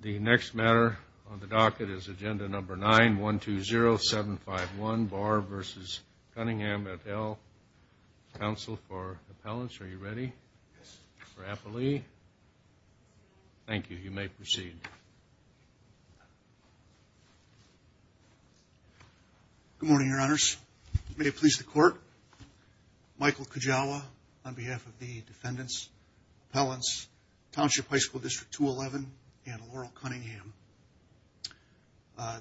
The next matter on the docket is agenda number 9-120-751, Barr v. Cunningham at Elk Council for Appellants. Are you ready for appellee? Thank you. You may proceed. Good morning, Your Honors. May it please the Court, Michael Kujawa on behalf of the Defendants, Appellants, Township High School District 211, and Laurel Cunningham.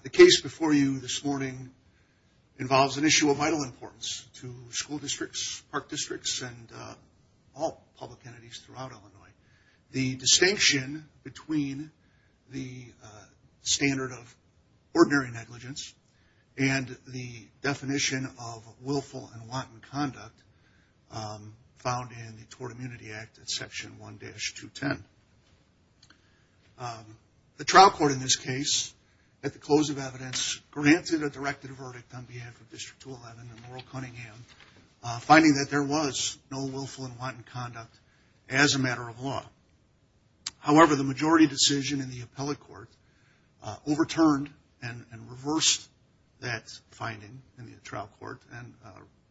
The case before you this morning involves an issue of vital importance to school districts, park districts, and all public entities throughout Illinois. The distinction between the standard of ordinary negligence and the definition of willful and wanton conduct found in the Tort Immunity Act at Section 1-210. The trial court in this case, at the close of evidence, granted or directed a verdict on behalf of District 211 and Laurel Cunningham, finding that there was no willful and wanton conduct as a matter of law. However, the majority decision in the appellate court overturned and reversed that finding in the trial court and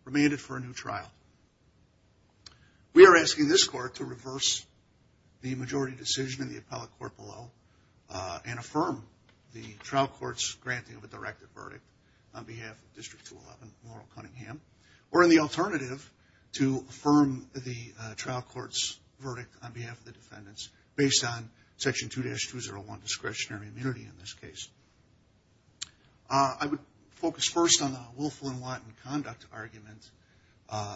remained it for a new trial. We are asking this Court to reverse the majority decision in the appellate court below and affirm the trial court's granting of a directed verdict on behalf of District 211 and Laurel Cunningham, or in the alternative, to affirm the trial court's verdict on behalf of the Defendants based on Section 2-201 discretionary immunity in this case. I would focus first on the willful and wanton conduct argument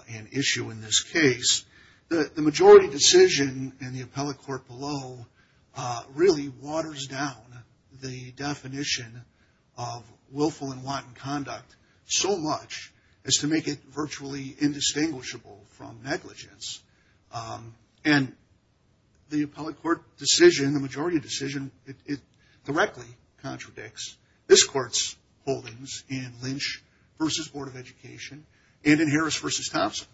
and issue in this case. The majority decision in the appellate court below really waters down the definition of willful and wanton conduct so much as to make it virtually indistinguishable from negligence. And the appellate court decision, in the majority decision, it directly contradicts this Court's holdings in Lynch v. Board of Education and in Harris v. Thompson.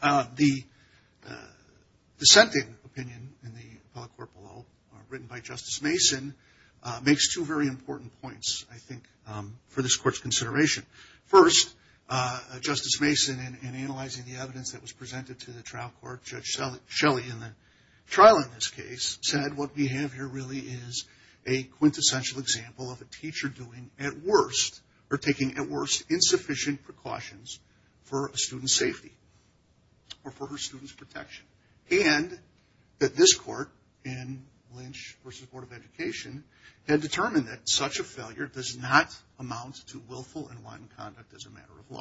The dissenting opinion in the appellate court below, written by Justice Mason, makes two very important points, I think, for this Court's consideration. First, Justice Mason, in analyzing the evidence that was presented to the trial court, Judge what we have here really is a quintessential example of a teacher doing at worst, or taking at worst, insufficient precautions for a student's safety or for her student's protection. And that this Court, in Lynch v. Board of Education, had determined that such a failure does not amount to willful and wanton conduct as a matter of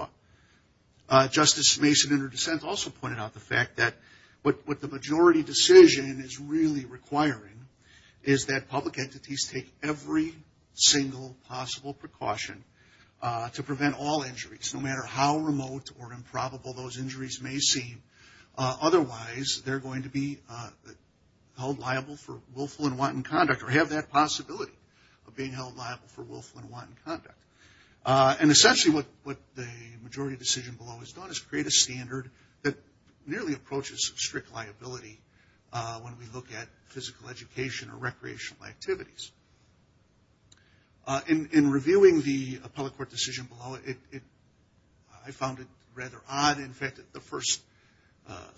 law. Justice Mason, in her dissent, also pointed out the fact that what the majority decision is really requiring is that public entities take every single possible precaution to prevent all injuries, no matter how remote or improbable those injuries may seem. Otherwise, they're going to be held liable for willful and wanton conduct, or have that possibility of being held liable for willful and wanton conduct that nearly approaches strict liability when we look at physical education or recreational activities. In reviewing the appellate court decision below, I found it rather odd, in fact, that the first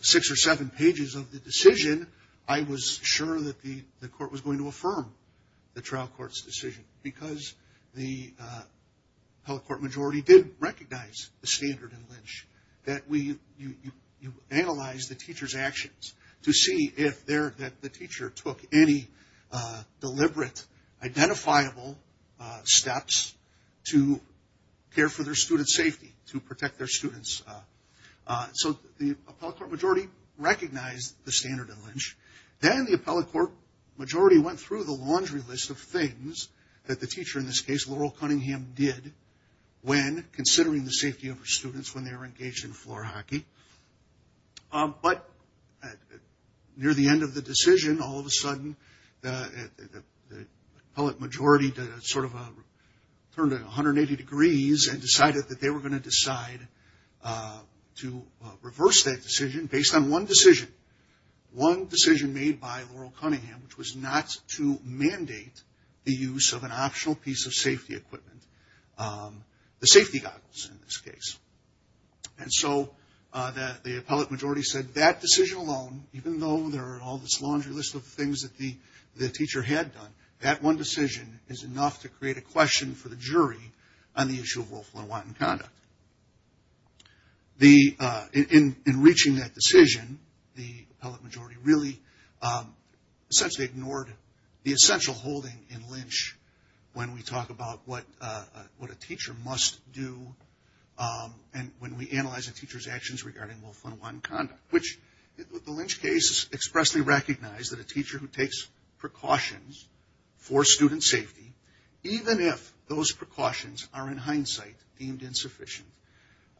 six or seven pages of the decision, I was sure that the Court was going to affirm the trial court's decision, because the appellate court majority did recognize the standard in Lynch, that you analyze the teacher's actions to see if the teacher took any deliberate, identifiable steps to care for their student's safety, to protect their students. So the appellate court majority recognized the standard in Lynch. Then the appellate court majority went through the laundry list of things that the teacher, in considering the safety of her students when they were engaged in floor hockey. But near the end of the decision, all of a sudden, the appellate majority turned 180 degrees and decided that they were going to decide to reverse that decision based on one decision. One decision made by Laurel Cunningham, which was not to mandate the use of an optional piece of safety equipment, the safety goggles in this case. So the appellate majority said that decision alone, even though there are all this laundry list of things that the teacher had done, that one decision is enough to create a question for the jury on the issue of willful and wanton conduct. In reaching that decision, the appellate majority really ignored the question when we talk about what a teacher must do, and when we analyze a teacher's actions regarding willful and wanton conduct. The Lynch case expressly recognized that a teacher who takes precautions for student safety, even if those precautions are in hindsight deemed insufficient,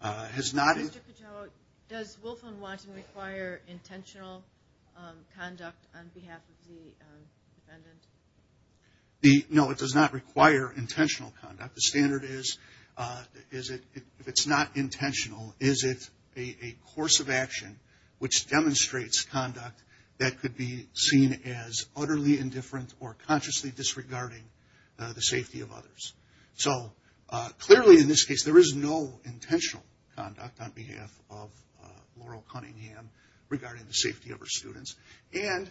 has not... Does willful and wanton require intentional conduct on behalf of the defendant? No, it does not require intentional conduct. The standard is, if it's not intentional, is it a course of action which demonstrates conduct that could be seen as utterly indifferent or consciously disregarding the safety of others. So clearly in this case, there is no intentional conduct on behalf of Laurel Cunningham regarding the safety of her students. And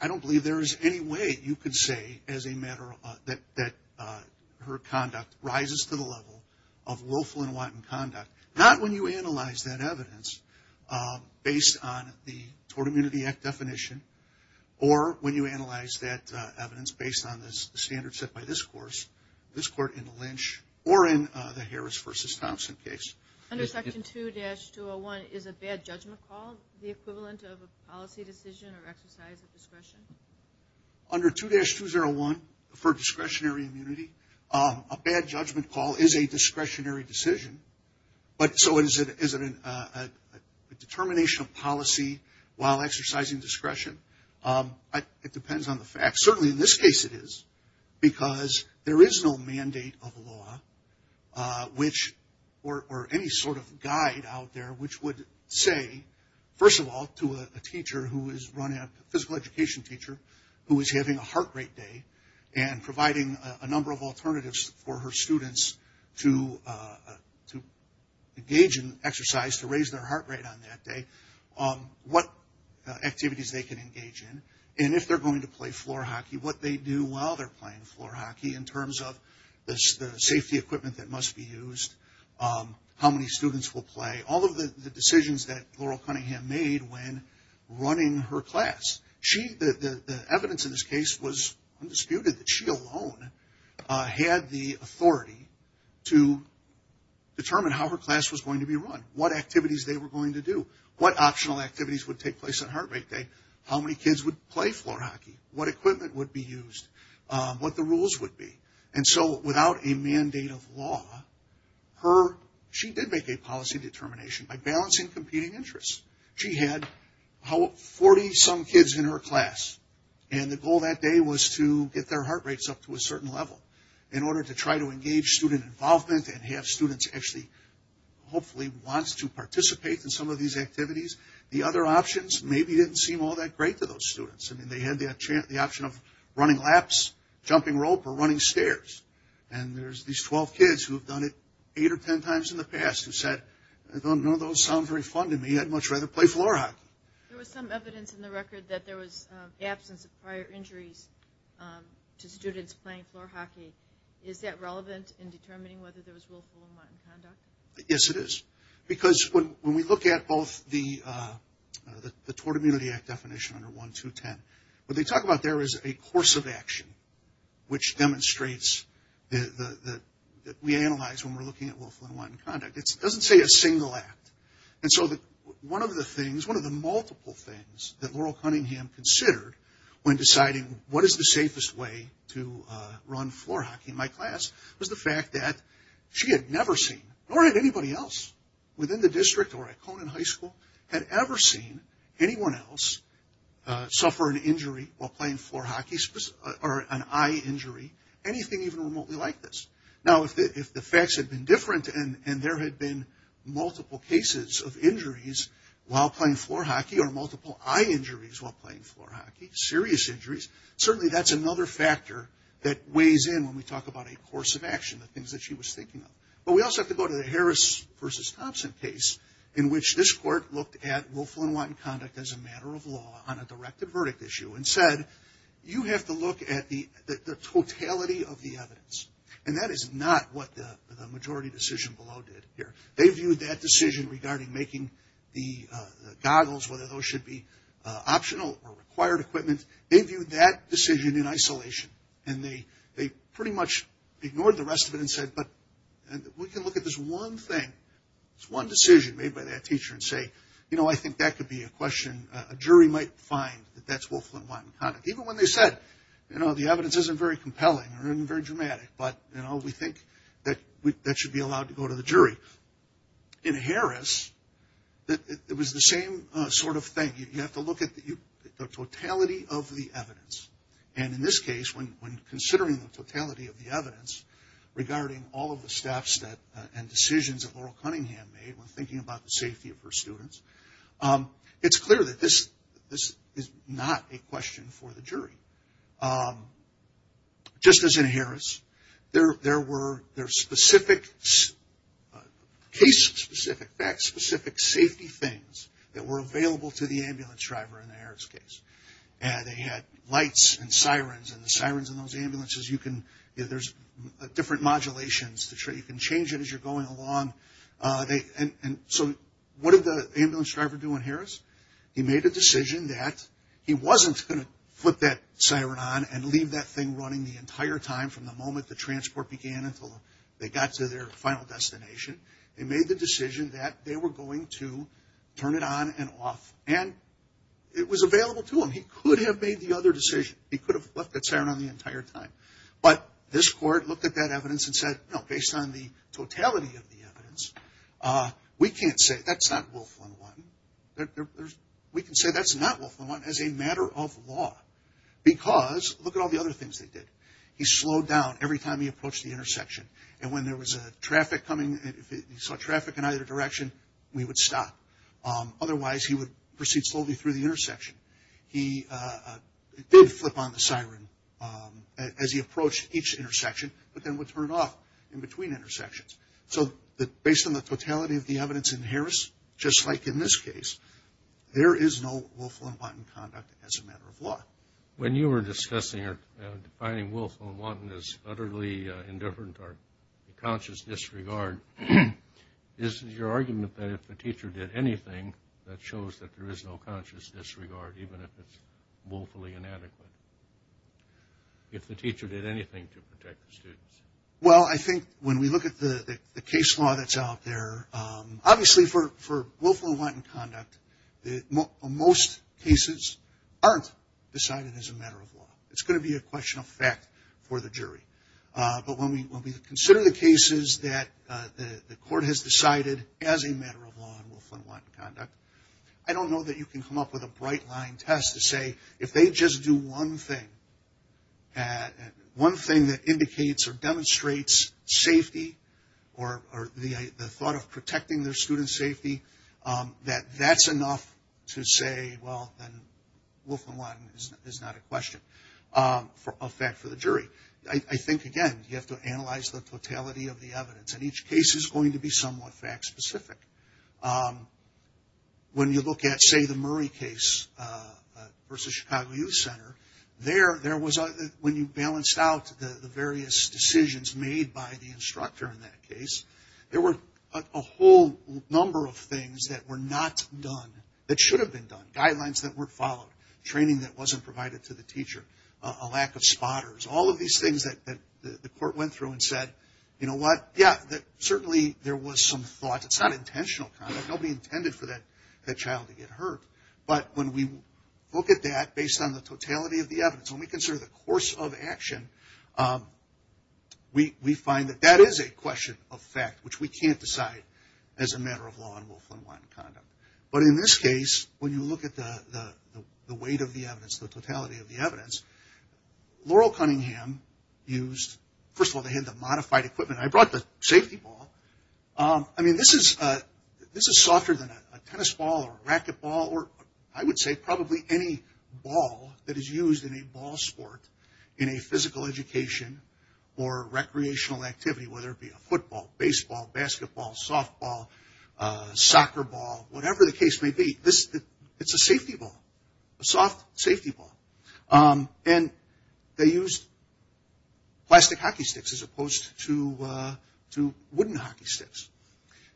I don't believe there is any way you could say as a matter of fact that her conduct rises to the level of willful and wanton conduct. Not when you analyze that evidence based on the Tort Immunity Act definition, or when you analyze that evidence based on the standards set by this court in the Lynch or in the Harris v. Thompson case. Under Section 2-201, is a bad judgment call the equivalent of a policy decision or exercise of discretion? Under 2-201, for discretionary immunity, a bad judgment call is a discretionary decision. But so is it a determination of policy while exercising discretion? It depends on the facts. Certainly in this case it is, because there is no mandate of law or any sort of guide out there which would say, first of all, to a teacher who is running, a physical education teacher who is having a heart rate day and providing a number of alternatives for her students to engage in exercise to raise their heart rate on that day, what activities they can engage in, and if they're going to play floor hockey, what they do while they're playing floor hockey in terms of the safety equipment that must be used, how many students will play, all of the decisions that Laurel Cunningham made when running her class. The evidence in this case was undisputed that she alone had the authority to determine how her class was going to be run, what activities they were going to do, what optional activities would take place on heart rate day, how many kids would play floor hockey, what equipment would be used, what the rules would be. And so without a mandate of law, she did make a policy determination by balancing competing interests. She had 40 some kids in her class and the goal that day was to get their heart rates up to a certain level in order to try to engage student involvement and have students actually hopefully want to participate in some of these activities. The other options maybe didn't seem all that great to those students. I mean they had the option of running laps, jumping rope, or running stairs. And there's these 12 kids who have done it 8 or 10 times in the past who said, none of those sound very fun to me, I'd much rather play floor hockey. There was some evidence in the record that there was absence of prior injuries to students playing floor hockey. Is that relevant in determining whether there was willful or unwilling conduct? Yes it is. Because when we look at both the Tort Immunity Act definition under 1.2.10, what they talk about there is a course of action which demonstrates that we analyze when we're looking at willful and unwilling conduct. It doesn't say a single act. And so one of the things, one of the multiple things that Laurel Cunningham considered when deciding what is the safest way to run floor hockey in my class was the fact that she had never seen, nor had anybody else within the district or at Conan High School, had ever seen anyone else suffer an injury while playing floor hockey, or an eye injury, anything even remotely like this. Now if the facts had been different and there had been multiple cases of injuries while playing floor hockey or multiple eye injuries while playing floor hockey, serious injuries, certainly that's another factor that weighs in when we talk about a course of action, the things that she was thinking of. But we also have to go to the Harris v. Thompson case in which this court looked at willful and wanton conduct as a matter of law on a directed verdict issue and said, you have to look at the totality of the evidence. And that is not what the majority decision below did here. They viewed that decision regarding making the goggles, whether those should be optional or required equipment, they viewed that decision in isolation. And they pretty much ignored the rest of it and said, but we can look at this one thing, this one decision made by that teacher and say, you know, I think that could be a question a jury might find that that's willful and wanton conduct. Even when they said, you know, the evidence isn't very compelling or isn't very dramatic, but, you know, we think that that should be allowed to go to the jury. In Harris, it was the same sort of thing. You have to look at the totality of the evidence. And in this case, when considering the totality of the evidence regarding all of the steps and decisions that Laurel Cunningham made when thinking about the safety of her students, it's clear that this is not a question for the jury. Just as in Harris, there were specific case-specific, fact-specific safety things that were available to the ambulance driver in the Harris case. And they had lights and sirens, and the sirens in those ambulances, you can, there's different modulations. You can change it as you're going along. And so what did the ambulance driver do in Harris? He made a decision that he wasn't going to put that siren on and leave that thing running the entire time from the moment the transport began until they got to their final destination. They made the decision that they were going to turn it on and off. And it was available to him. He could have made the other decision. He could have left that siren on the entire time. But this court looked at that evidence and said, you know, based on the totality of the evidence, we can't say, that's not Wilflin 1. We can say that's not Wilflin 1 as a matter of law. Because look at all the other things they did. He slowed down every time he approached the intersection. And when there was a traffic coming, if he saw traffic in either direction, we would stop. Otherwise, he would proceed slowly through the intersection. He did flip on the siren as he approached each intersection, but then would turn it off in between intersections. So based on the totality of the evidence in Harris, just like in this case, there is no Wilflin-Wanton conduct as a matter of law. When you were discussing or defining Wilflin-Wanton as utterly indifferent or a conscious disregard, is it your argument that if the teacher did anything, that shows that there is no conscious disregard, even if it's woefully inadequate? If the teacher did anything to protect the students? Well, I think when we look at the case law that's out there, obviously for Wilflin-Wanton conduct, most cases aren't decided as a matter of law. It's going to be a question of fact for the jury. But when we consider the cases that the court has decided as a matter of law in Wilflin-Wanton conduct, I don't know that you can come up with a bright line test to say if they just do one thing, one thing that indicates or demonstrates safety or the other. That's enough to say, well, then Wilflin-Wanton is not a question of fact for the jury. I think, again, you have to analyze the totality of the evidence. And each case is going to be somewhat fact-specific. When you look at, say, the Murray case versus Chicago Youth Center, when you balanced out the various decisions made by the instructor in that case, there were a whole number of things that should have been done, guidelines that weren't followed, training that wasn't provided to the teacher, a lack of spotters, all of these things that the court went through and said, you know what, yeah, certainly there was some thought. It's not intentional conduct. Nobody intended for that child to get hurt. But when we look at that based on the totality of the evidence, when we consider the course of action, we find that that is a question of fact, which we can't decide as a matter of law in Wilflin-Wanton conduct. But in this case, when you look at the weight of the evidence, the totality of the evidence, Laurel Cunningham used, first of all, they had the modified equipment. I brought the safety ball. I mean, this is softer than a tennis ball or a racquetball or I would say probably any ball that is used in a ball sport in a physical education or recreational activity, whether it be a football, baseball, basketball, softball, soccer ball, whatever the case may be, it's a safety ball, a soft safety ball. And they used plastic hockey sticks as opposed to wooden hockey sticks.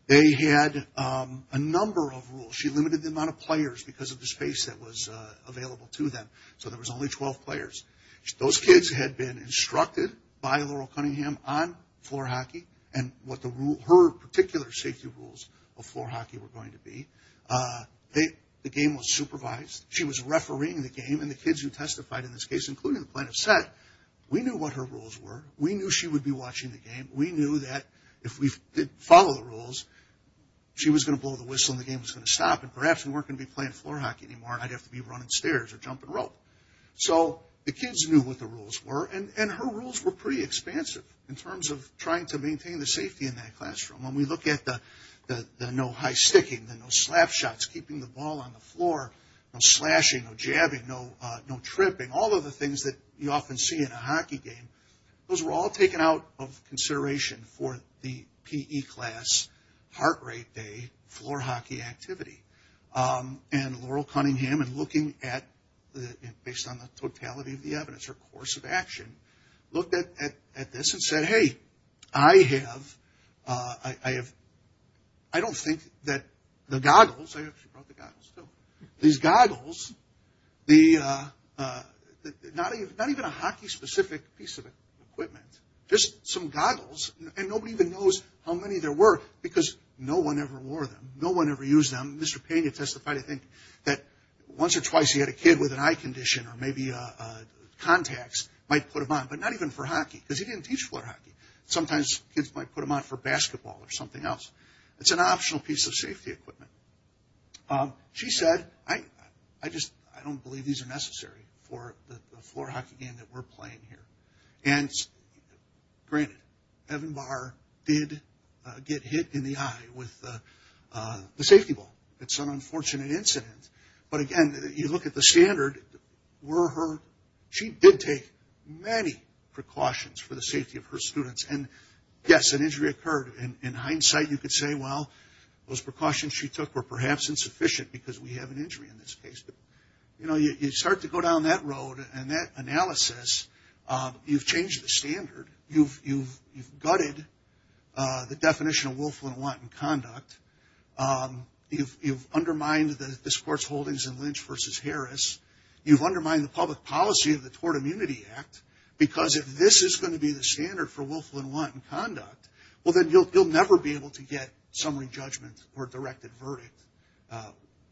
They had a number of rules. She limited the amount of players because of the space that was available to them. So there was only 12 players. Those her particular safety rules of floor hockey were going to be. The game was supervised. She was refereeing the game. And the kids who testified in this case, including the plaintiff, said, we knew what her rules were. We knew she would be watching the game. We knew that if we didn't follow the rules, she was going to blow the whistle and the game was going to stop. And perhaps if we weren't going to be playing floor hockey anymore, I'd have to be running stairs or jumping rope. So the kids knew what the rules were. And her rules were pretty expansive in terms of trying to maintain the safety in that classroom. When we look at the no high sticking, the no slap shots, keeping the ball on the floor, no slashing, no jabbing, no tripping, all of the things that you often see in a hockey game, those were all taken out of consideration for the P.E. class, heart rate day, floor hockey activity. And Laurel Cunningham and looking at, based on the totality of the evidence, her course of action, looked at this and said, hey, I have, I don't think that the goggles, I actually brought the goggles too, these goggles, not even a hockey specific piece of equipment, just some goggles. And nobody even knows how many there were because no one ever wore them. No one ever used them. Mr. Payne had testified, I think, that once or twice he had a kid with an eye condition or maybe contacts, might put them on. But not even for hockey because he didn't teach floor hockey. Sometimes kids might put them on for basketball or something else. It's an optional piece of safety equipment. She said, I just don't believe these are necessary for the floor hockey game that we're playing here. And granted, Evan Barr did get hit in the eye with the safety ball. It's an unfortunate incident. But again, you look at the standard, were her, she did take many precautions for the safety of her students. And yes, an injury occurred. In hindsight, you could say, well, those precautions she took were perhaps insufficient because we have an injury in this case. But you know, you start to go down that road and that analysis, you've changed the standard. You've gutted the definition of willful and wanton conduct. You've undermined this court's holdings in Lynch v. Harris. You've undermined the public policy of the Tort Immunity Act because if this is going to be the standard for willful and wanton conduct, well, then you'll never be able to get summary judgment or directed verdict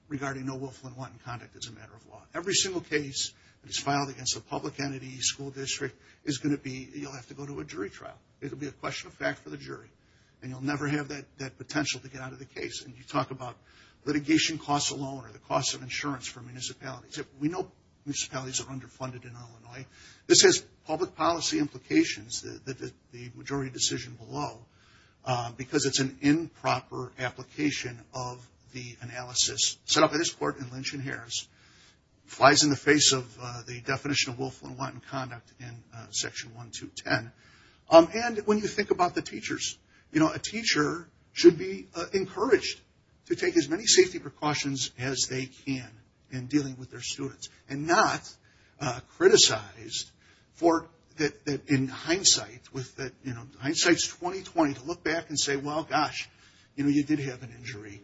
regarding no willful and wanton conduct as a matter of law. Every single case that is filed against a public entity, school district, is going to be, you'll have to go to a jury trial. It'll be a question of fact for the jury. And you'll never have that potential to get out of the case. And you talk about litigation costs alone, or the cost of insurance for municipalities. We know municipalities are underfunded in Illinois. This has public policy implications, the majority decision below, because it's an improper application of the analysis set in section 1, 2, 10. And when you think about the teachers, you know, a teacher should be encouraged to take as many safety precautions as they can in dealing with their students, and not criticized for, in hindsight, with hindsight's 20-20, to look back and say, well, gosh, you know, you did have an injury.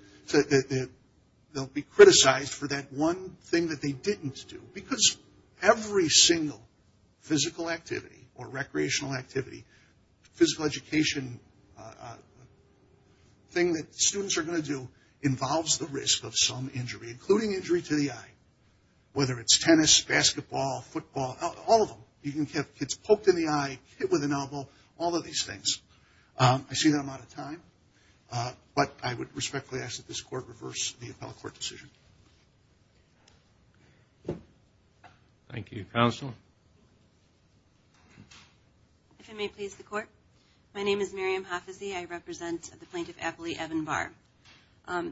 They'll be criticized for that one thing that they didn't do. Because every single physical activity or recreational activity, physical education thing that students are going to do involves the risk of some injury, including injury to the eye. Whether it's tennis, basketball, football, all of them. You can have kids poked in the eye, hit with an elbow, all of these things. I see that I'm out of time. But I would respectfully ask that this Court reverse the appellate court decision. Thank you. Counsel? If it may please the Court, my name is Miriam Hafizy. I represent the plaintiff, Apolli Ebenbar.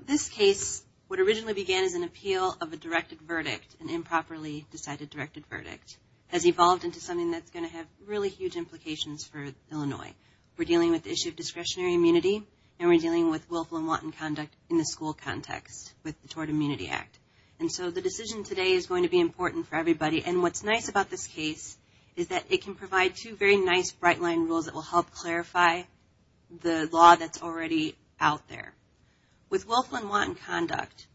This case, what originally began as an appeal of a directed verdict, an improperly decided directed verdict, has evolved into something that's going to have really huge implications for Illinois. We're dealing with the issue of discretionary immunity, and we're dealing with Wilflin-Wanton Conduct in the school context with the Tort Immunity Act. And so the decision today is going to be important for everybody. And what's nice about this case is that it can provide two very nice bright line rules that will help clarify the law that's already out there. With Wilflin-Wanton Conduct,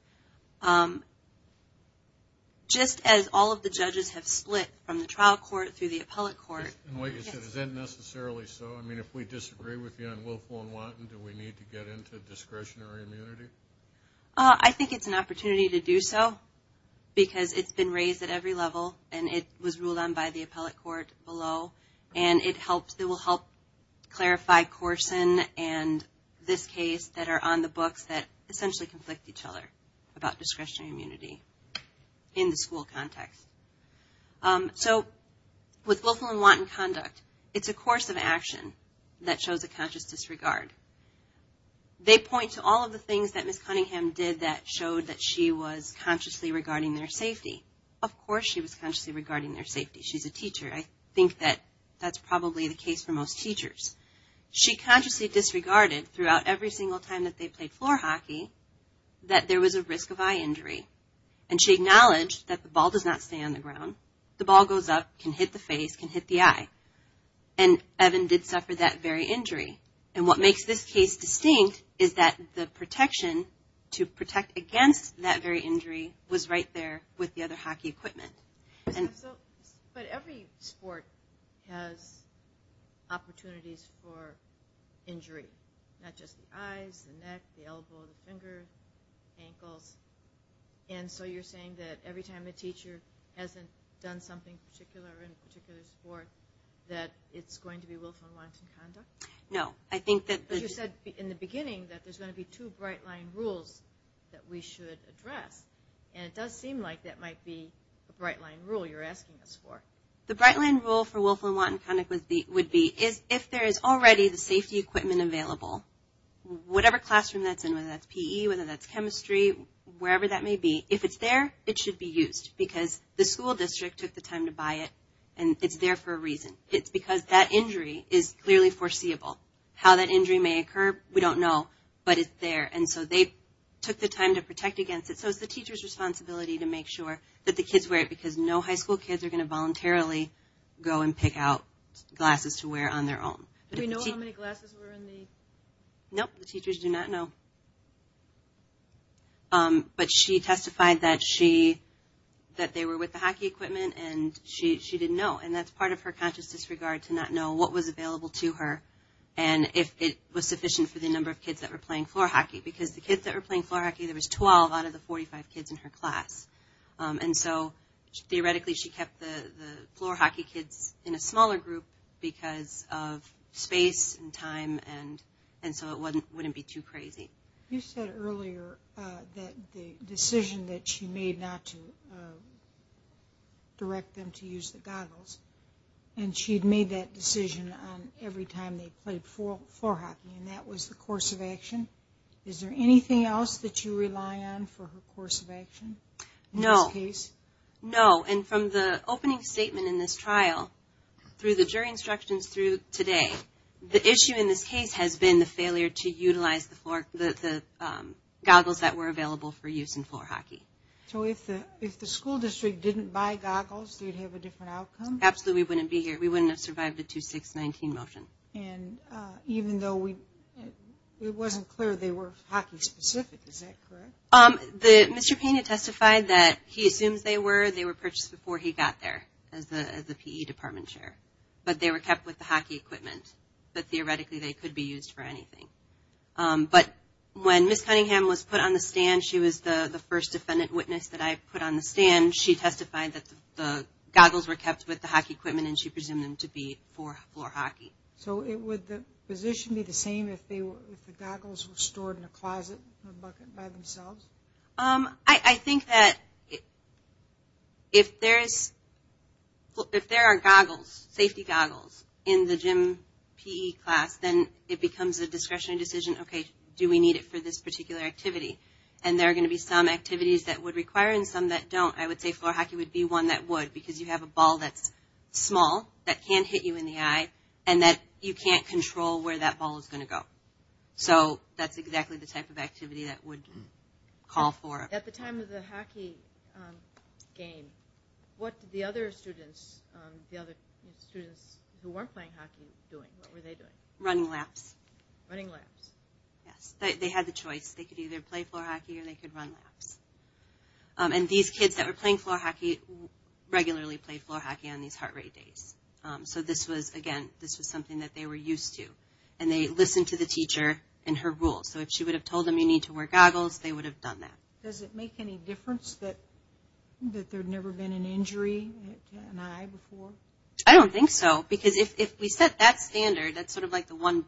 just as all of the judges have split from the trial court through the appellate court. And what you said, is that necessarily so? I mean, if we disagree with you on Wilflin-Wanton, do we need to get into discretionary immunity? I think it's an opportunity to do so, because it's been raised at every level, and it was ruled on by the appellate court below. And it will help clarify Corson and this case that are on the books that essentially conflict each other about discretionary immunity in the school context. So, with Wilflin-Wanton Conduct, it's a course of action that shows a conscious disregard. They point to all of the things that Ms. Cunningham did that showed that she was consciously regarding their safety. Of course she was consciously regarding their safety. She's a teacher. I think that that's probably the case for most teachers. She consciously disregarded throughout every single time that they played floor hockey that there was a risk of eye injury. And she acknowledged that the ball does not stay on the ground. The ball goes up, can hit the face, can hit the eye. And Evan did suffer that very injury. And what makes this case distinct is that the protection to protect against that very injury was right there with the other hockey equipment. But every sport has opportunities for injury. Not just the eyes, the neck, the elbow, the finger, ankles. And so you're saying that every time a teacher hasn't done something in a particular sport, that it's going to be Wilflin-Wanton Conduct? No. I think that... But you said in the beginning that there's going to be two bright line rules that we should address. And it does seem like that might be a bright line rule you're asking us for. The bright line rule for Wilflin-Wanton Conduct would be if there is already the safety equipment available, whatever classroom that's in, whether that's PE, whether that's chemistry, wherever that may be, if it's there, it should be used. Because the school district took the time to buy it. And it's there for a reason. It's because that injury is clearly foreseeable. How that injury may occur, we don't know. But it's there. And so they took the time to protect against it. So it's the teacher's responsibility to make sure that the kids wear it. Because no high school kids are going to voluntarily go and pick out glasses to wear on their own. Do we know how many glasses were in the... equipment and she didn't know. And that's part of her conscious disregard to not know what was available to her and if it was sufficient for the number of kids that were playing floor hockey. Because the kids that were playing floor hockey, there was 12 out of the 45 kids in her class. And so theoretically she kept the floor hockey kids in a smaller group because of space and time and so it wouldn't be too crazy. You said earlier that the decision that she made not to direct them to use the goggles and she'd made that decision on every time they played floor hockey and that was the course of action. Is there anything else that you rely on for her course of action in this case? No. No. And from the opening statement in this trial, through the jury instructions through today, the issue in this case has been the failure to utilize the goggles that were available for use in floor hockey. So if the school district didn't buy goggles, you'd have a different outcome? Absolutely we wouldn't be here. We wouldn't have survived a 2-6-19 motion. And even though it wasn't clear they were hockey specific, is that correct? Mr. Pena testified that he assumes they were. They were purchased before he got there as the PE department chair. But they were kept with the hockey equipment. But theoretically they could be used for anything. But when Ms. Cunningham was put on the stand, she was the first defendant witness that I put on the stand. She testified that the goggles were kept with the hockey equipment and she presumed them to be for floor hockey. So would the position be the same if the goggles were stored in a closet or a bucket by themselves? I think that if there are goggles, safety goggles, in the gym PE class, then it becomes a discretionary decision, okay, do we need it for this particular activity? And there are going to be some activities that would require it and some that don't. I would say floor hockey would be one that would because you have a ball that's small, that can hit you in the eye, and that you can't control where that ball is going to go. So that's exactly the type of activity that would call for it. At the time of the hockey game, what did the other students, the other students who weren't playing hockey doing? What were they doing? Running laps. Running laps. Yes. They had the choice. They could either play floor hockey or they could run laps. And these kids that were playing floor hockey regularly played floor hockey on these heart rate days. So this was, again, this was something that they were used to. And they listened to the teacher and her rules. So if she would have told them you need to wear goggles, they would have done that. Does it make any difference that there had never been an injury to an eye before? I don't think so because if we set that standard, that's sort of like the one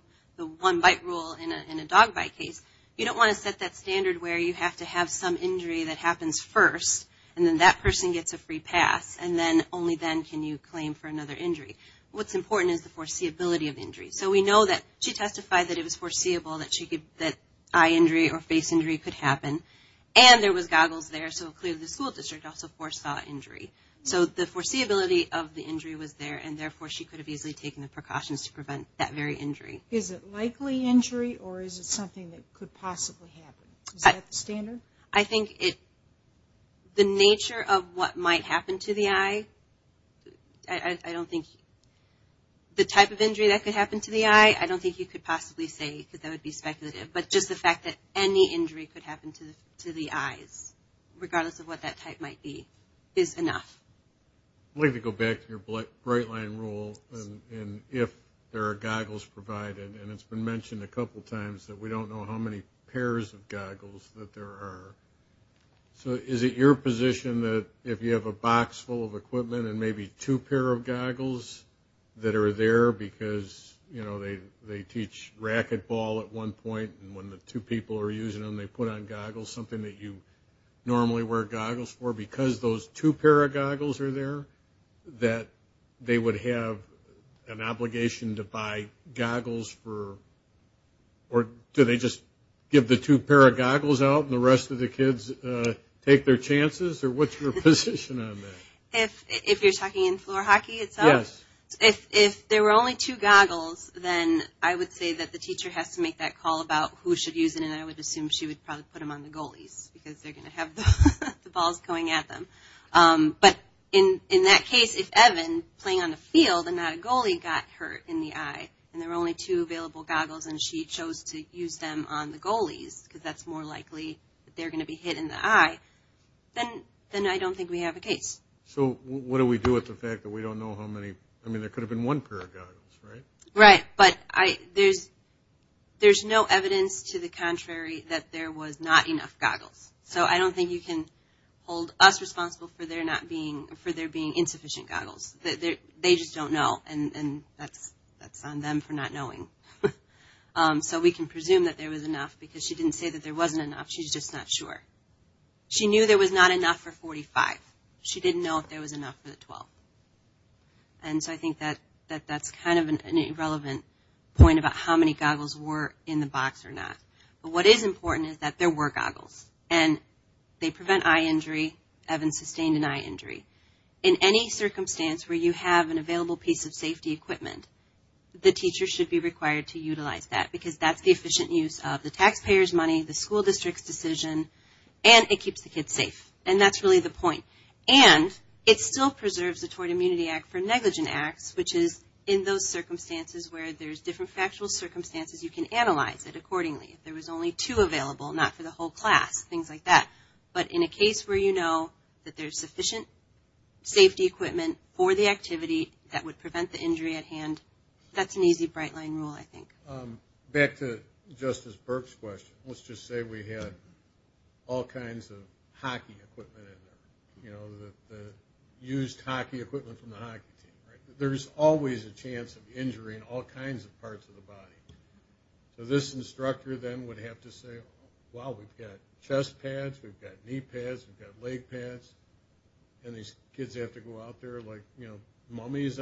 bite rule in a dog bite case, you don't want to set that standard where you have to have some injury that happens first and then that person gets a free pass and then only then can you claim for another injury. What's important is the foreseeability of injuries. So we know that she testified that it was foreseeable that eye injury or face injury could happen. And there was goggles there so clearly the school district also foresaw injury. So the foreseeability of the injury was there and therefore she could have easily taken the precautions to prevent that very injury. Is it likely injury or is it something that could possibly happen? Is that the standard? I think the nature of what might happen to the eye, I don't think the type of injury that could happen to the eye, I don't think you could possibly say because that would be speculative. But just the fact that any injury could happen to the eyes, regardless of what that type might be, is enough. I'd like to go back to your bright line rule and if there are goggles provided. And it's been mentioned a couple times that we don't know how many pairs of goggles that there are. So is it your position that if you have a box full of equipment and maybe two pair of goggles that are there because they teach racquetball at one point and when the two people are using them they put on goggles, something that you normally wear goggles for, because those two pair of goggles are there, that they would have an obligation to buy goggles or do they just give the two pair of goggles out and the rest of the kids take their chances? Or what's your position on that? If you're talking in floor hockey itself, if there were only two goggles, then I would say that the teacher has to make that call about who should use it and I would assume she would probably put them on the goalies because they're going to have the balls going at them. But in that case, if Evan playing on the field and not a goalie got hurt in the eye and there were only two available goggles and she chose to use them on the goalies because that's more likely that they're going to be hit in the eye, then I don't think we have a case. So what do we do with the fact that we don't know how many, I mean there could have been one pair of goggles, right? Right, but there's no evidence to the contrary that there was not enough goggles. So I don't think you can hold us responsible for there being insufficient goggles. They just don't know and that's on them for not knowing. So we can presume that there was enough because she didn't say that there wasn't enough, she's just not sure. She knew there was not enough for 45. She didn't know if there was enough for the 12. And so I think that's kind of an irrelevant point about how many goggles were in the box or not. But what is important is that there were goggles and they prevent eye injury, Evan sustained an eye injury. In any circumstance where you have an available piece of safety equipment, the teacher should be required to utilize that because that's the efficient use of the taxpayer's money, the school district's decision, and it keeps the kids safe. And that's really the point. And it still preserves the Tort Immunity Act for negligent acts, which is in those circumstances where there's different factual circumstances, you can analyze it accordingly. If there was only two available, not for the whole class, things like that. But in a case where you know that there's sufficient safety equipment for the activity that would prevent the injury at hand, that's an easy bright line rule, I think. Back to Justice Burke's question, let's just say we had all kinds of hockey equipment in there, you know, the used hockey equipment from the hockey team. There's always a chance of injuring all kinds of parts of the body. So this instructor then would have to say, wow, we've got chest pads, we've got knee pads, we've got leg pads, and these kids have to go out there like, you know, I'm just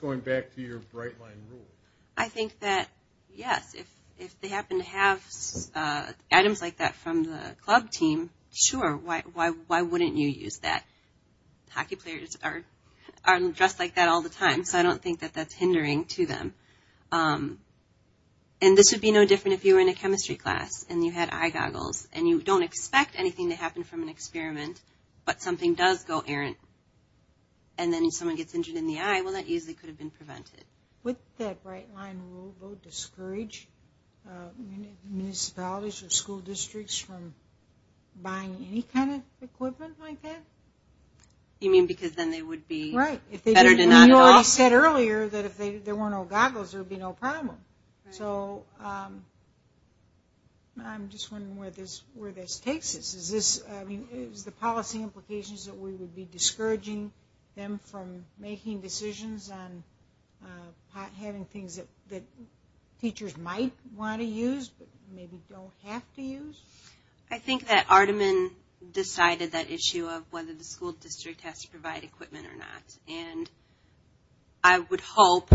going back to your bright line rule. I think that, yes, if they happen to have items like that from the club team, sure, why wouldn't you use that? Hockey players are dressed like that all the time, so I don't think that that's hindering to them. And this would be no different if you were in a chemistry class and you had eye goggles and you don't expect anything to happen from an experiment, but something does go errant, and then if someone gets injured in the eye, well, that easily could have been prevented. Would that bright line rule discourage municipalities or school districts from buying any kind of equipment like that? You mean because then they would be better to not involve? Right. You already said earlier that if there weren't no goggles, there would be no problem. So I'm just wondering where this takes us. Is the policy implications that we would be discouraging them from making decisions on having things that teachers might want to use but maybe don't have to use? I think that Artiman decided that issue of whether the school district has to provide equipment or not. And I would hope,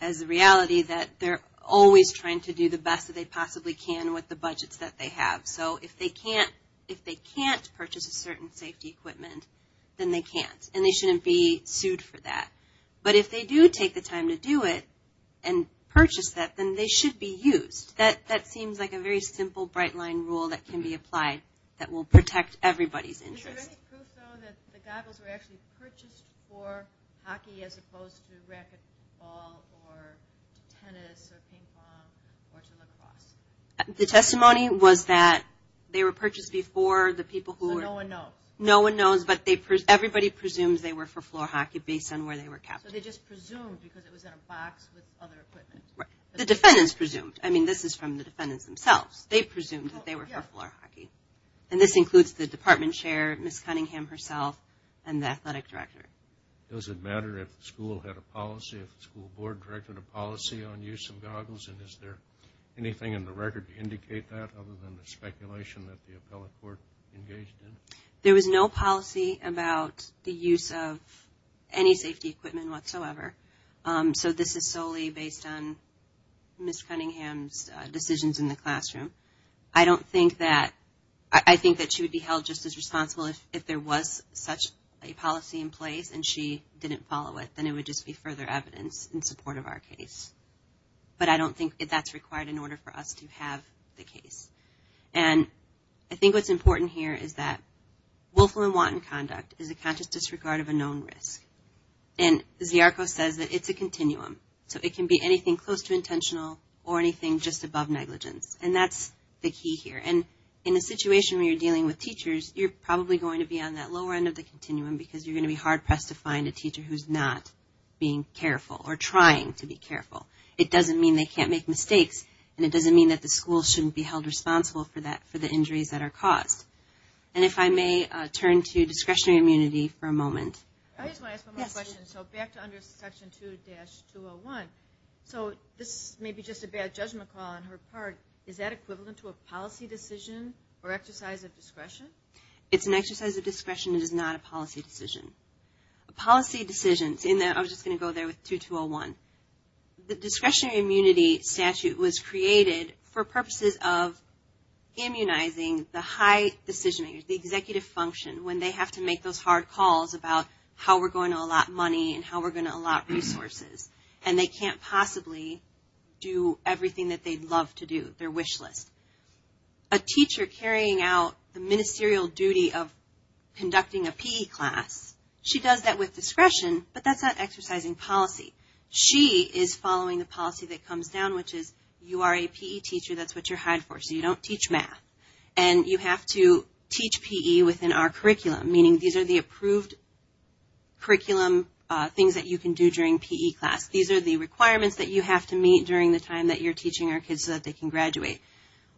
as a reality, that they're always trying to do the best that they possibly can with the budgets that they have. So if they can't purchase a certain safety equipment, then they can't, and they shouldn't be sued for that. But if they do take the time to do it and purchase that, then they should be used. That seems like a very simple bright line rule that can be applied that will protect everybody's interest. Is there any proof, though, that the goggles were actually purchased for hockey as opposed to racquetball or tennis or ping pong or lacrosse? The testimony was that they were purchased before the people who were... So no one knows? No one knows, but everybody presumes they were for floor hockey based on where they were captured. So they just presumed because it was in a box with other equipment? The defendants presumed. I mean, this is from the defendants themselves. They presumed that they were for floor hockey. And this includes the department chair, Ms. Cunningham herself, and the athletic director. Does it matter if the school had a policy, if the school board directed a policy on use of goggles, and is there anything in the record to indicate that other than the speculation that the appellate court engaged in? There was no policy about the use of any safety equipment whatsoever. So this is solely based on Ms. Cunningham's decisions in the classroom. I don't think that... I think that she would be held just as responsible if there was such a policy in place and she didn't follow it, then it would just be further evidence in support of our case. But I don't think that's required in order for us to have the case. And I think what's important here is that willful and wanton conduct is a conscious disregard of a known risk. And Ziarko says that it's a continuum. So it can be anything close to intentional or anything just above negligence. And that's the key here. And in a situation where you're dealing with teachers, you're probably going to be on that lower end of the continuum because you're going to be hard-pressed to find a teacher who's not being careful or trying to be careful. It doesn't mean they can't make mistakes, and it doesn't mean that the school shouldn't be held responsible for the injuries that are caused. And if I may turn to discretionary immunity for a moment. I just want to ask one more question. So back to under Section 2-201. So this may be just a bad judgment call on her part. Is that equivalent to a policy decision or exercise of discretion? It's an exercise of discretion. It is not a policy decision. A policy decision, I was just going to go there with 2-201. The discretionary immunity statute was created for purposes of immunizing the high decision-makers, the executive function, when they have to make those hard calls about how we're going to allot money and how we're going to allot resources. And they can't possibly do everything that they'd love to do, their wish list. A teacher carrying out the ministerial duty of conducting a P.E. class, she does that with discretion, but that's not exercising policy. She is following the policy that comes down, which is you are a P.E. teacher, that's what you're hired for, so you don't teach math. And you have to teach P.E. within our curriculum, meaning these are the approved curriculum things that you can do during P.E. class. These are the requirements that you have to meet during the time that you're teaching our kids so that they can graduate.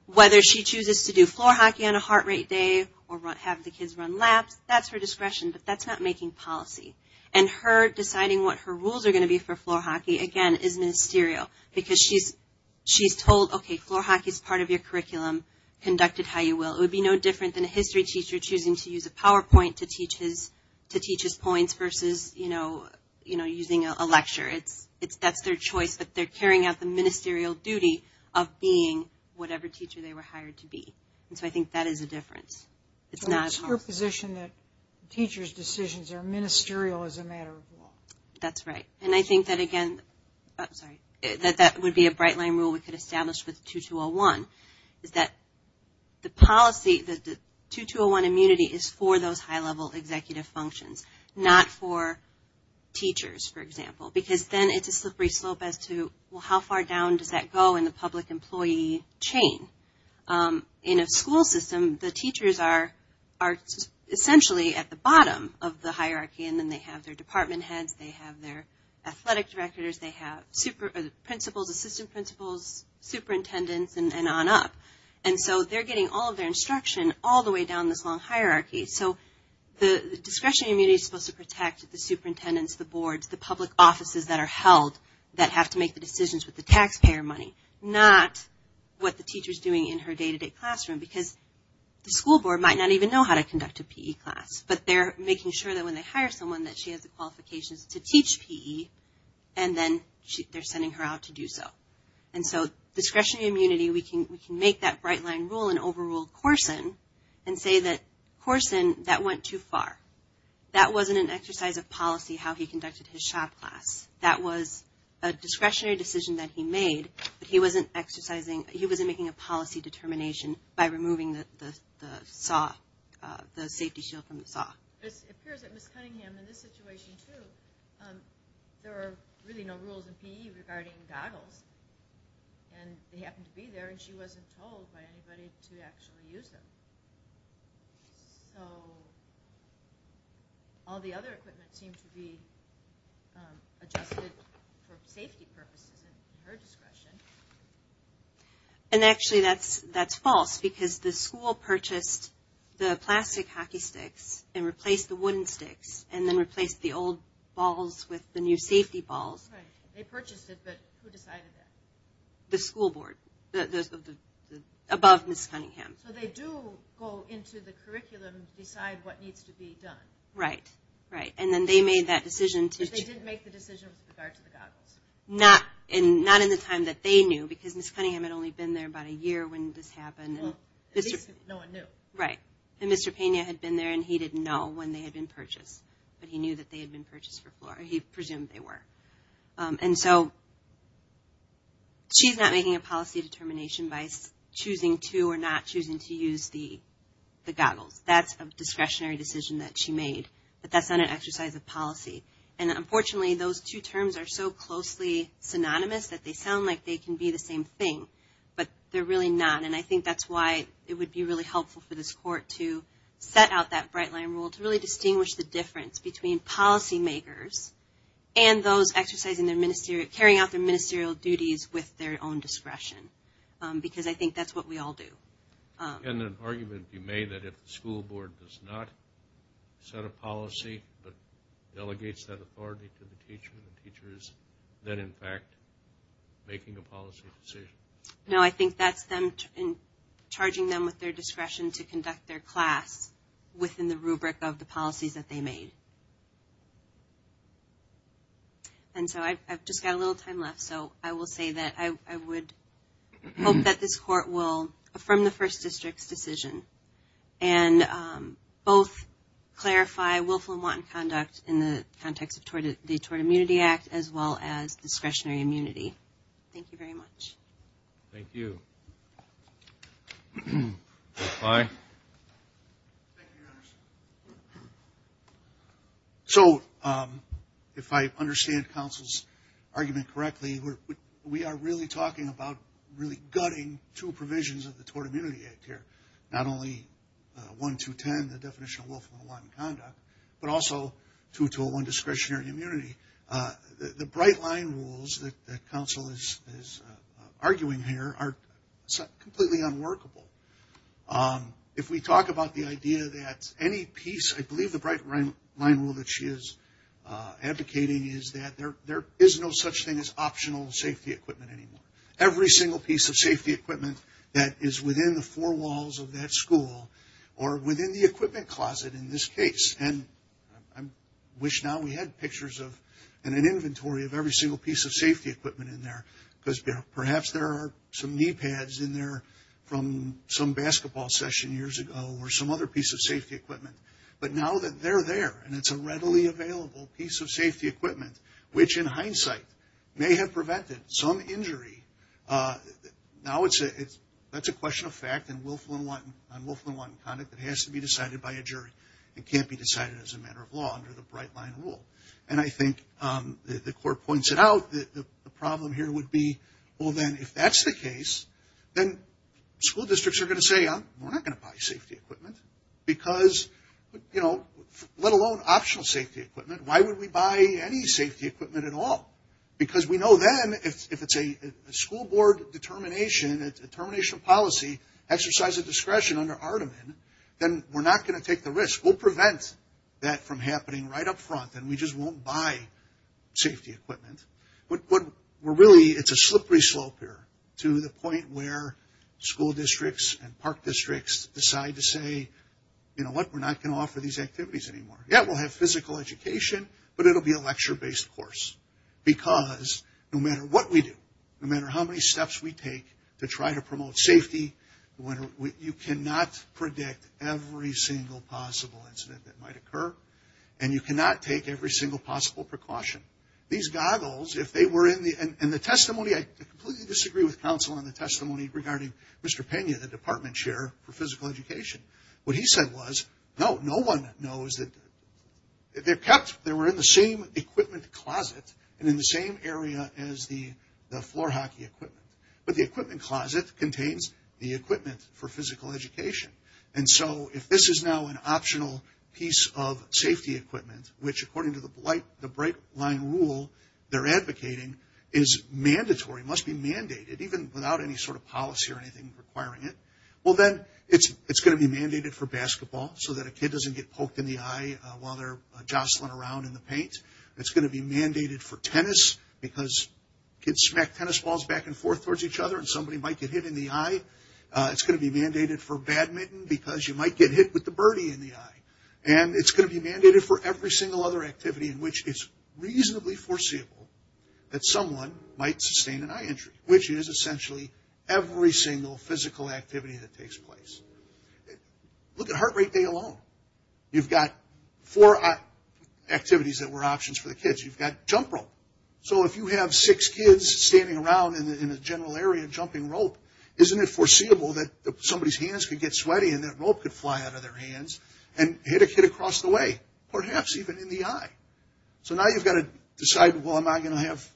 Whether she chooses to do floor hockey on a heart rate day or have the kids run laps, that's her discretion, but that's not making policy. And her deciding what her rules are going to be for floor hockey, again, is ministerial. Because she's told, okay, floor hockey is part of your curriculum, conduct it how you will. It would be no different than a history teacher choosing to use a PowerPoint to teach his points versus, you know, using a lecture. That's their choice, but they're carrying out the ministerial duty of being whatever teacher they were hired to be. And so I think that is a difference. It's not as hard. It's her position that teachers' decisions are ministerial as a matter of law. That's right. And I think that, again, that would be a bright line rule we could establish with 2201, is that the policy, the 2201 immunity is for those high-level executive functions, not for teachers, for example, because then it's a slippery slope as to, well, how far down does that go in the public employee chain? In a school system, the teachers are essentially at the bottom of the hierarchy, and then they have their department heads, they have their athletic directors, they have principals, assistant principals, superintendents, and on up. And so they're getting all of their instruction all the way down this long hierarchy. So the discretionary immunity is supposed to protect the superintendents, the boards, the public offices that are held that have to make the decisions with the taxpayer money, not what the teacher is doing in her day-to-day classroom, because the school board might not even know how to conduct a PE class, but they're making sure that when they hire someone that she has the qualifications to teach PE and then they're sending her out to do so. And so discretionary immunity, we can make that bright line rule and overrule Corson and say that, Corson, that went too far. That wasn't an exercise of policy how he conducted his shop class. That was a discretionary decision that he made, but he wasn't making a policy determination by removing the safety shield from the saw. It appears that Ms. Cunningham, in this situation, too, there were really no rules in PE regarding goggles, and they happened to be there and she wasn't told by anybody to actually use them. So all the other equipment seemed to be adjusted for safety purposes and her discretion. And actually that's false, because the school purchased the plastic hockey sticks and replaced the wooden sticks and then replaced the old balls with the new safety balls. Right. They purchased it, but who decided that? The school board, above Ms. Cunningham. So they do go into the curriculum and decide what needs to be done. Right, right. And then they made that decision. But they didn't make the decision with regard to the goggles. Not in the time that they knew, because Ms. Cunningham had only been there about a year when this happened. Well, at least no one knew. Right. And Mr. Pena had been there and he didn't know when they had been purchased, but he knew that they had been purchased before. He presumed they were. And so she's not making a policy determination by choosing to or not choosing to use the goggles. That's a discretionary decision that she made, but that's not an exercise of policy. And unfortunately, those two terms are so closely synonymous that they sound like they can be the same thing, but they're really not. And I think that's why it would be really helpful for this court to set out that bright line rule to really distinguish the difference between policy makers and those carrying out their ministerial duties with their own discretion. Because I think that's what we all do. Can an argument be made that if the school board does not set a policy that delegates that authority to the teacher, the teacher is then in fact making a policy decision? No, I think that's them charging them with their discretion to conduct their class within the rubric of the policies that they made. And so I've just got a little time left, so I will say that I would hope that this court will affirm the First District's decision and both clarify willful and wanton conduct in the context of the Tort Immunity Act as well as discretionary immunity. Thank you very much. Thank you. Thank you, Your Honor. So if I understand counsel's argument correctly, we are really talking about really gutting two provisions of the Tort Immunity Act here, not only 1.210, the definition of willful and wanton conduct, but also 2.201, discretionary immunity. The bright line rules that counsel is arguing here are completely unworkable. If we talk about the idea that any piece, I believe the bright line rule that she is advocating is that there is no such thing as optional safety equipment anymore. Every single piece of safety equipment that is within the four walls of that school or within the equipment closet in this case, and I wish now we had pictures and an inventory of every single piece of safety equipment in there because perhaps there are some knee pads in there from some basketball session years ago or some other piece of safety equipment. But now that they're there and it's a readily available piece of safety equipment, which in hindsight may have prevented some injury, now that's a question of fact on willful and wanton conduct that has to be decided by a jury and can't be decided as a matter of law under the bright line rule. And I think the court points it out. The problem here would be, well, then if that's the case, then school districts are going to say, we're not going to buy safety equipment because, you know, let alone optional safety equipment. Why would we buy any safety equipment at all? Because we know then if it's a school board determination, and it's a termination policy, exercise of discretion under Aardman, then we're not going to take the risk. We'll prevent that from happening right up front, and we just won't buy safety equipment. But really it's a slippery slope here to the point where school districts and park districts decide to say, you know what, we're not going to offer these activities anymore. Yeah, we'll have physical education, but it'll be a lecture-based course because no matter what we do, no matter how many steps we take to try to promote safety, you cannot predict every single possible incident that might occur, and you cannot take every single possible precaution. These goggles, if they were in the ‑‑ and the testimony, I completely disagree with counsel on the testimony regarding Mr. Pena, the department chair for physical education. What he said was, no, no one knows that they're kept, they were in the same equipment closet and in the same area as the floor hockey equipment. But the equipment closet contains the equipment for physical education. And so if this is now an optional piece of safety equipment, which according to the bright line rule they're advocating is mandatory, must be mandated, even without any sort of policy or anything requiring it, well, then it's going to be mandated for basketball so that a kid doesn't get poked in the eye while they're jostling around in the paint. It's going to be mandated for tennis because kids smack tennis balls back and forth towards each other and somebody might get hit in the eye. It's going to be mandated for badminton because you might get hit with the birdie in the eye. And it's going to be mandated for every single other activity in which it's reasonably foreseeable that someone might sustain an eye injury, which is essentially every single physical activity that takes place. Look at heart rate day alone. You've got four activities that were options for the kids. You've got jump rope. So if you have six kids standing around in a general area jumping rope, isn't it foreseeable that somebody's hands could get sweaty and that rope could fly out of their hands and hit a kid across the way, perhaps even in the eye? So now you've got to decide, well, am I going to have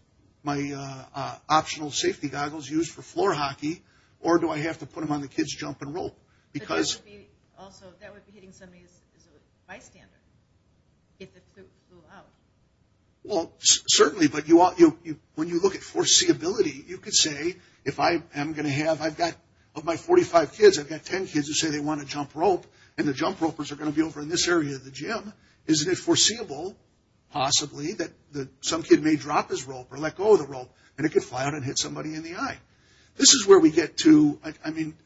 my optional safety goggles used for floor hockey or do I have to put them on the kids' jump and rope? But that would be hitting somebody as a bystander if it flew out. Well, certainly, but when you look at foreseeability, you could say if I am going to have, of my 45 kids, I've got 10 kids who say they want to jump rope and the jump ropers are going to be over in this area of the gym. Isn't it foreseeable, possibly, that some kid may drop his rope or let go of the rope and it could fly out and hit somebody in the eye? This is where we get to, I mean,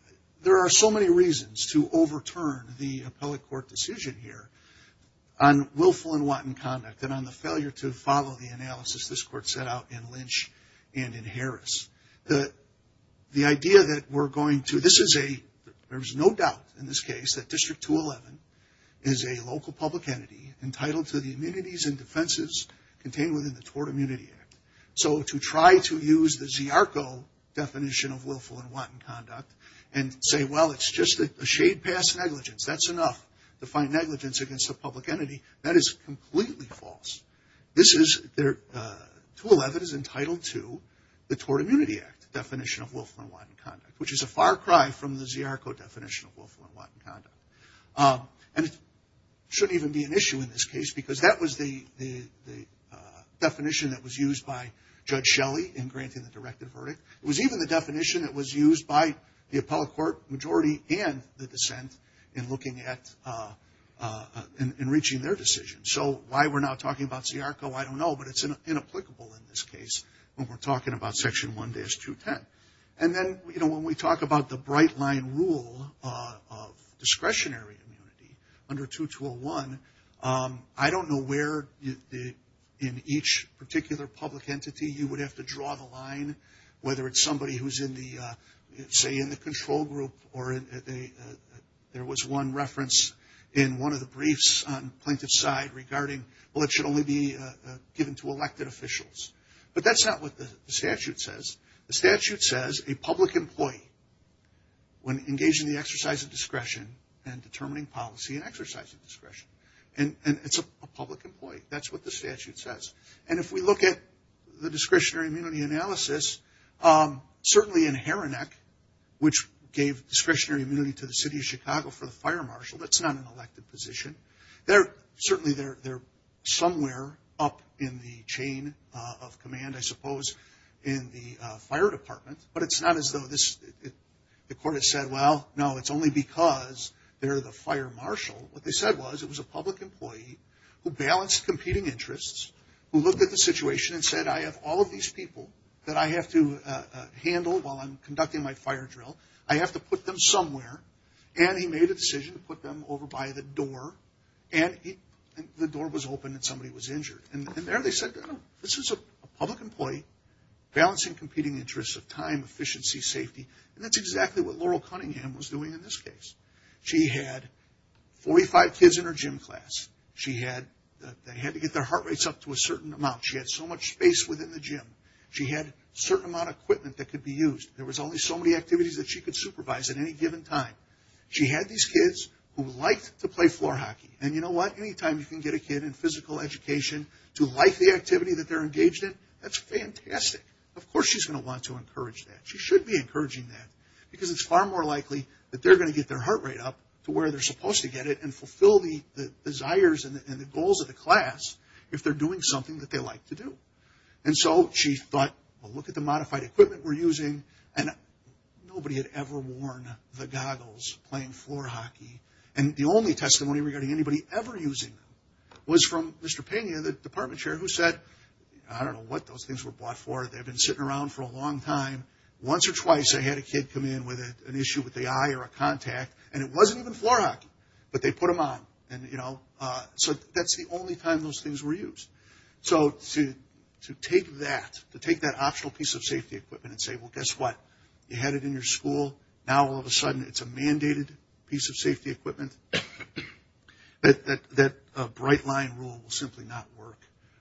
there are so many reasons to overturn the appellate court decision here on willful and wanton conduct and on the failure to follow the analysis this court set out in Lynch and in Harris. The idea that we're going to, this is a, there's no doubt in this case, that District 211 is a local public entity entitled to the immunities and defenses contained within the Tort Immunity Act. So to try to use the ZRCO definition of willful and wanton conduct and say, well, it's just a shade past negligence, that's enough to find negligence against a public entity, that is completely false. This is, 211 is entitled to the Tort Immunity Act definition of willful and wanton conduct, which is a far cry from the ZRCO definition of willful and wanton conduct. And it shouldn't even be an issue in this case because that was the definition that was used by Judge Shelley in granting the directive verdict. It was even the definition that was used by the appellate court majority and the dissent in looking at, in reaching their decision. So why we're now talking about ZRCO, I don't know, but it's inapplicable in this case when we're talking about Section 1-210. And then, you know, when we talk about the bright line rule of discretionary immunity under 2-201, I don't know where in each particular public entity you would have to draw the line, whether it's somebody who's in the, say, in the control group or there was one reference in one of the briefs on plaintiff's side regarding, well, it should only be given to elected officials. But that's not what the statute says. The statute says a public employee, when engaged in the exercise of discretion and determining policy and exercising discretion. And it's a public employee. That's what the statute says. And if we look at the discretionary immunity analysis, certainly in Haranek, which gave discretionary immunity to the city of Chicago for the fire marshal, that's not an elected position. Certainly they're somewhere up in the chain of command, I suppose, in the fire department. But it's not as though the court has said, well, no, it's only because they're the fire marshal. What they said was it was a public employee who balanced competing interests, who looked at the situation and said, I have all of these people that I have to handle while I'm conducting my fire drill. I have to put them somewhere. And he made a decision to put them over by the door. And the door was open and somebody was injured. And there they said, this is a public employee balancing competing interests of time, efficiency, safety. And that's exactly what Laurel Cunningham was doing in this case. She had 45 kids in her gym class. They had to get their heart rates up to a certain amount. She had so much space within the gym. She had a certain amount of equipment that could be used. There was only so many activities that she could supervise at any given time. She had these kids who liked to play floor hockey. And you know what? Anytime you can get a kid in physical education to like the activity that they're engaged in, that's fantastic. Of course she's going to want to encourage that. She should be encouraging that because it's far more likely that they're going to get their heart rate up to where they're supposed to get it and fulfill the desires and the goals of the class if they're doing something that they like to do. And so she thought, well, look at the modified equipment we're using. And nobody had ever worn the goggles playing floor hockey. And the only testimony regarding anybody ever using them was from Mr. Pena, the department chair, who said, I don't know what those things were bought for. They've been sitting around for a long time. Once or twice they had a kid come in with an issue with the eye or a contact, and it wasn't even floor hockey, but they put them on. So that's the only time those things were used. So to take that, to take that optional piece of safety equipment and say, well, guess what? You had it in your school. Now all of a sudden it's a mandated piece of safety equipment. That bright line rule will simply not work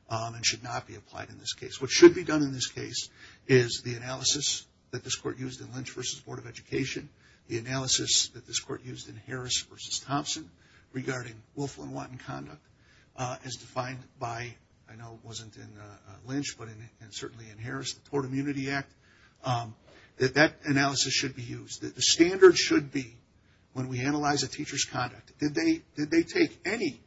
and should not be applied in this case. What should be done in this case is the analysis that this court used in Lynch v. Board of Education, the analysis that this court used in Harris v. Thompson regarding Wolflin-Watton conduct as defined by, I know it wasn't in Lynch, but certainly in Harris, the Tort Immunity Act. That analysis should be used. The standard should be when we analyze a teacher's conduct, did they take any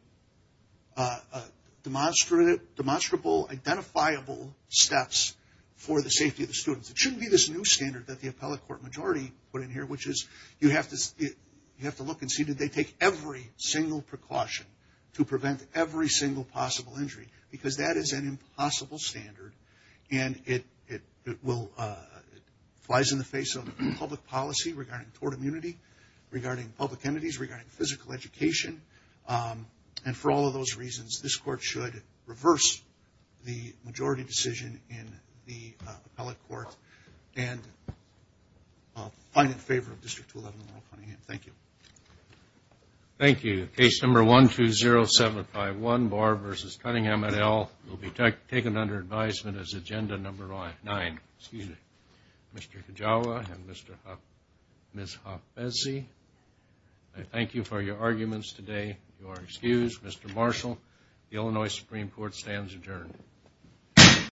demonstrable, identifiable steps for the safety of the students? It shouldn't be this new standard that the appellate court majority put in here, which is you have to look and see did they take every single precaution to prevent every single possible injury because that is an impossible standard and it flies in the face of public policy regarding tort immunity, regarding public entities, regarding physical education, and for all of those reasons, this court should reverse the majority decision in the appellate court and I'll find it in favor of District 11 in the roll calling it. Thank you. Thank you. Case number 120751, Barr v. Cunningham, MNL, will be taken under advisement as agenda number nine. Mr. Kajawa and Ms. Hafezzi, I thank you for your arguments today. You are excused. Mr. Marshall, the Illinois Supreme Court stands adjourned.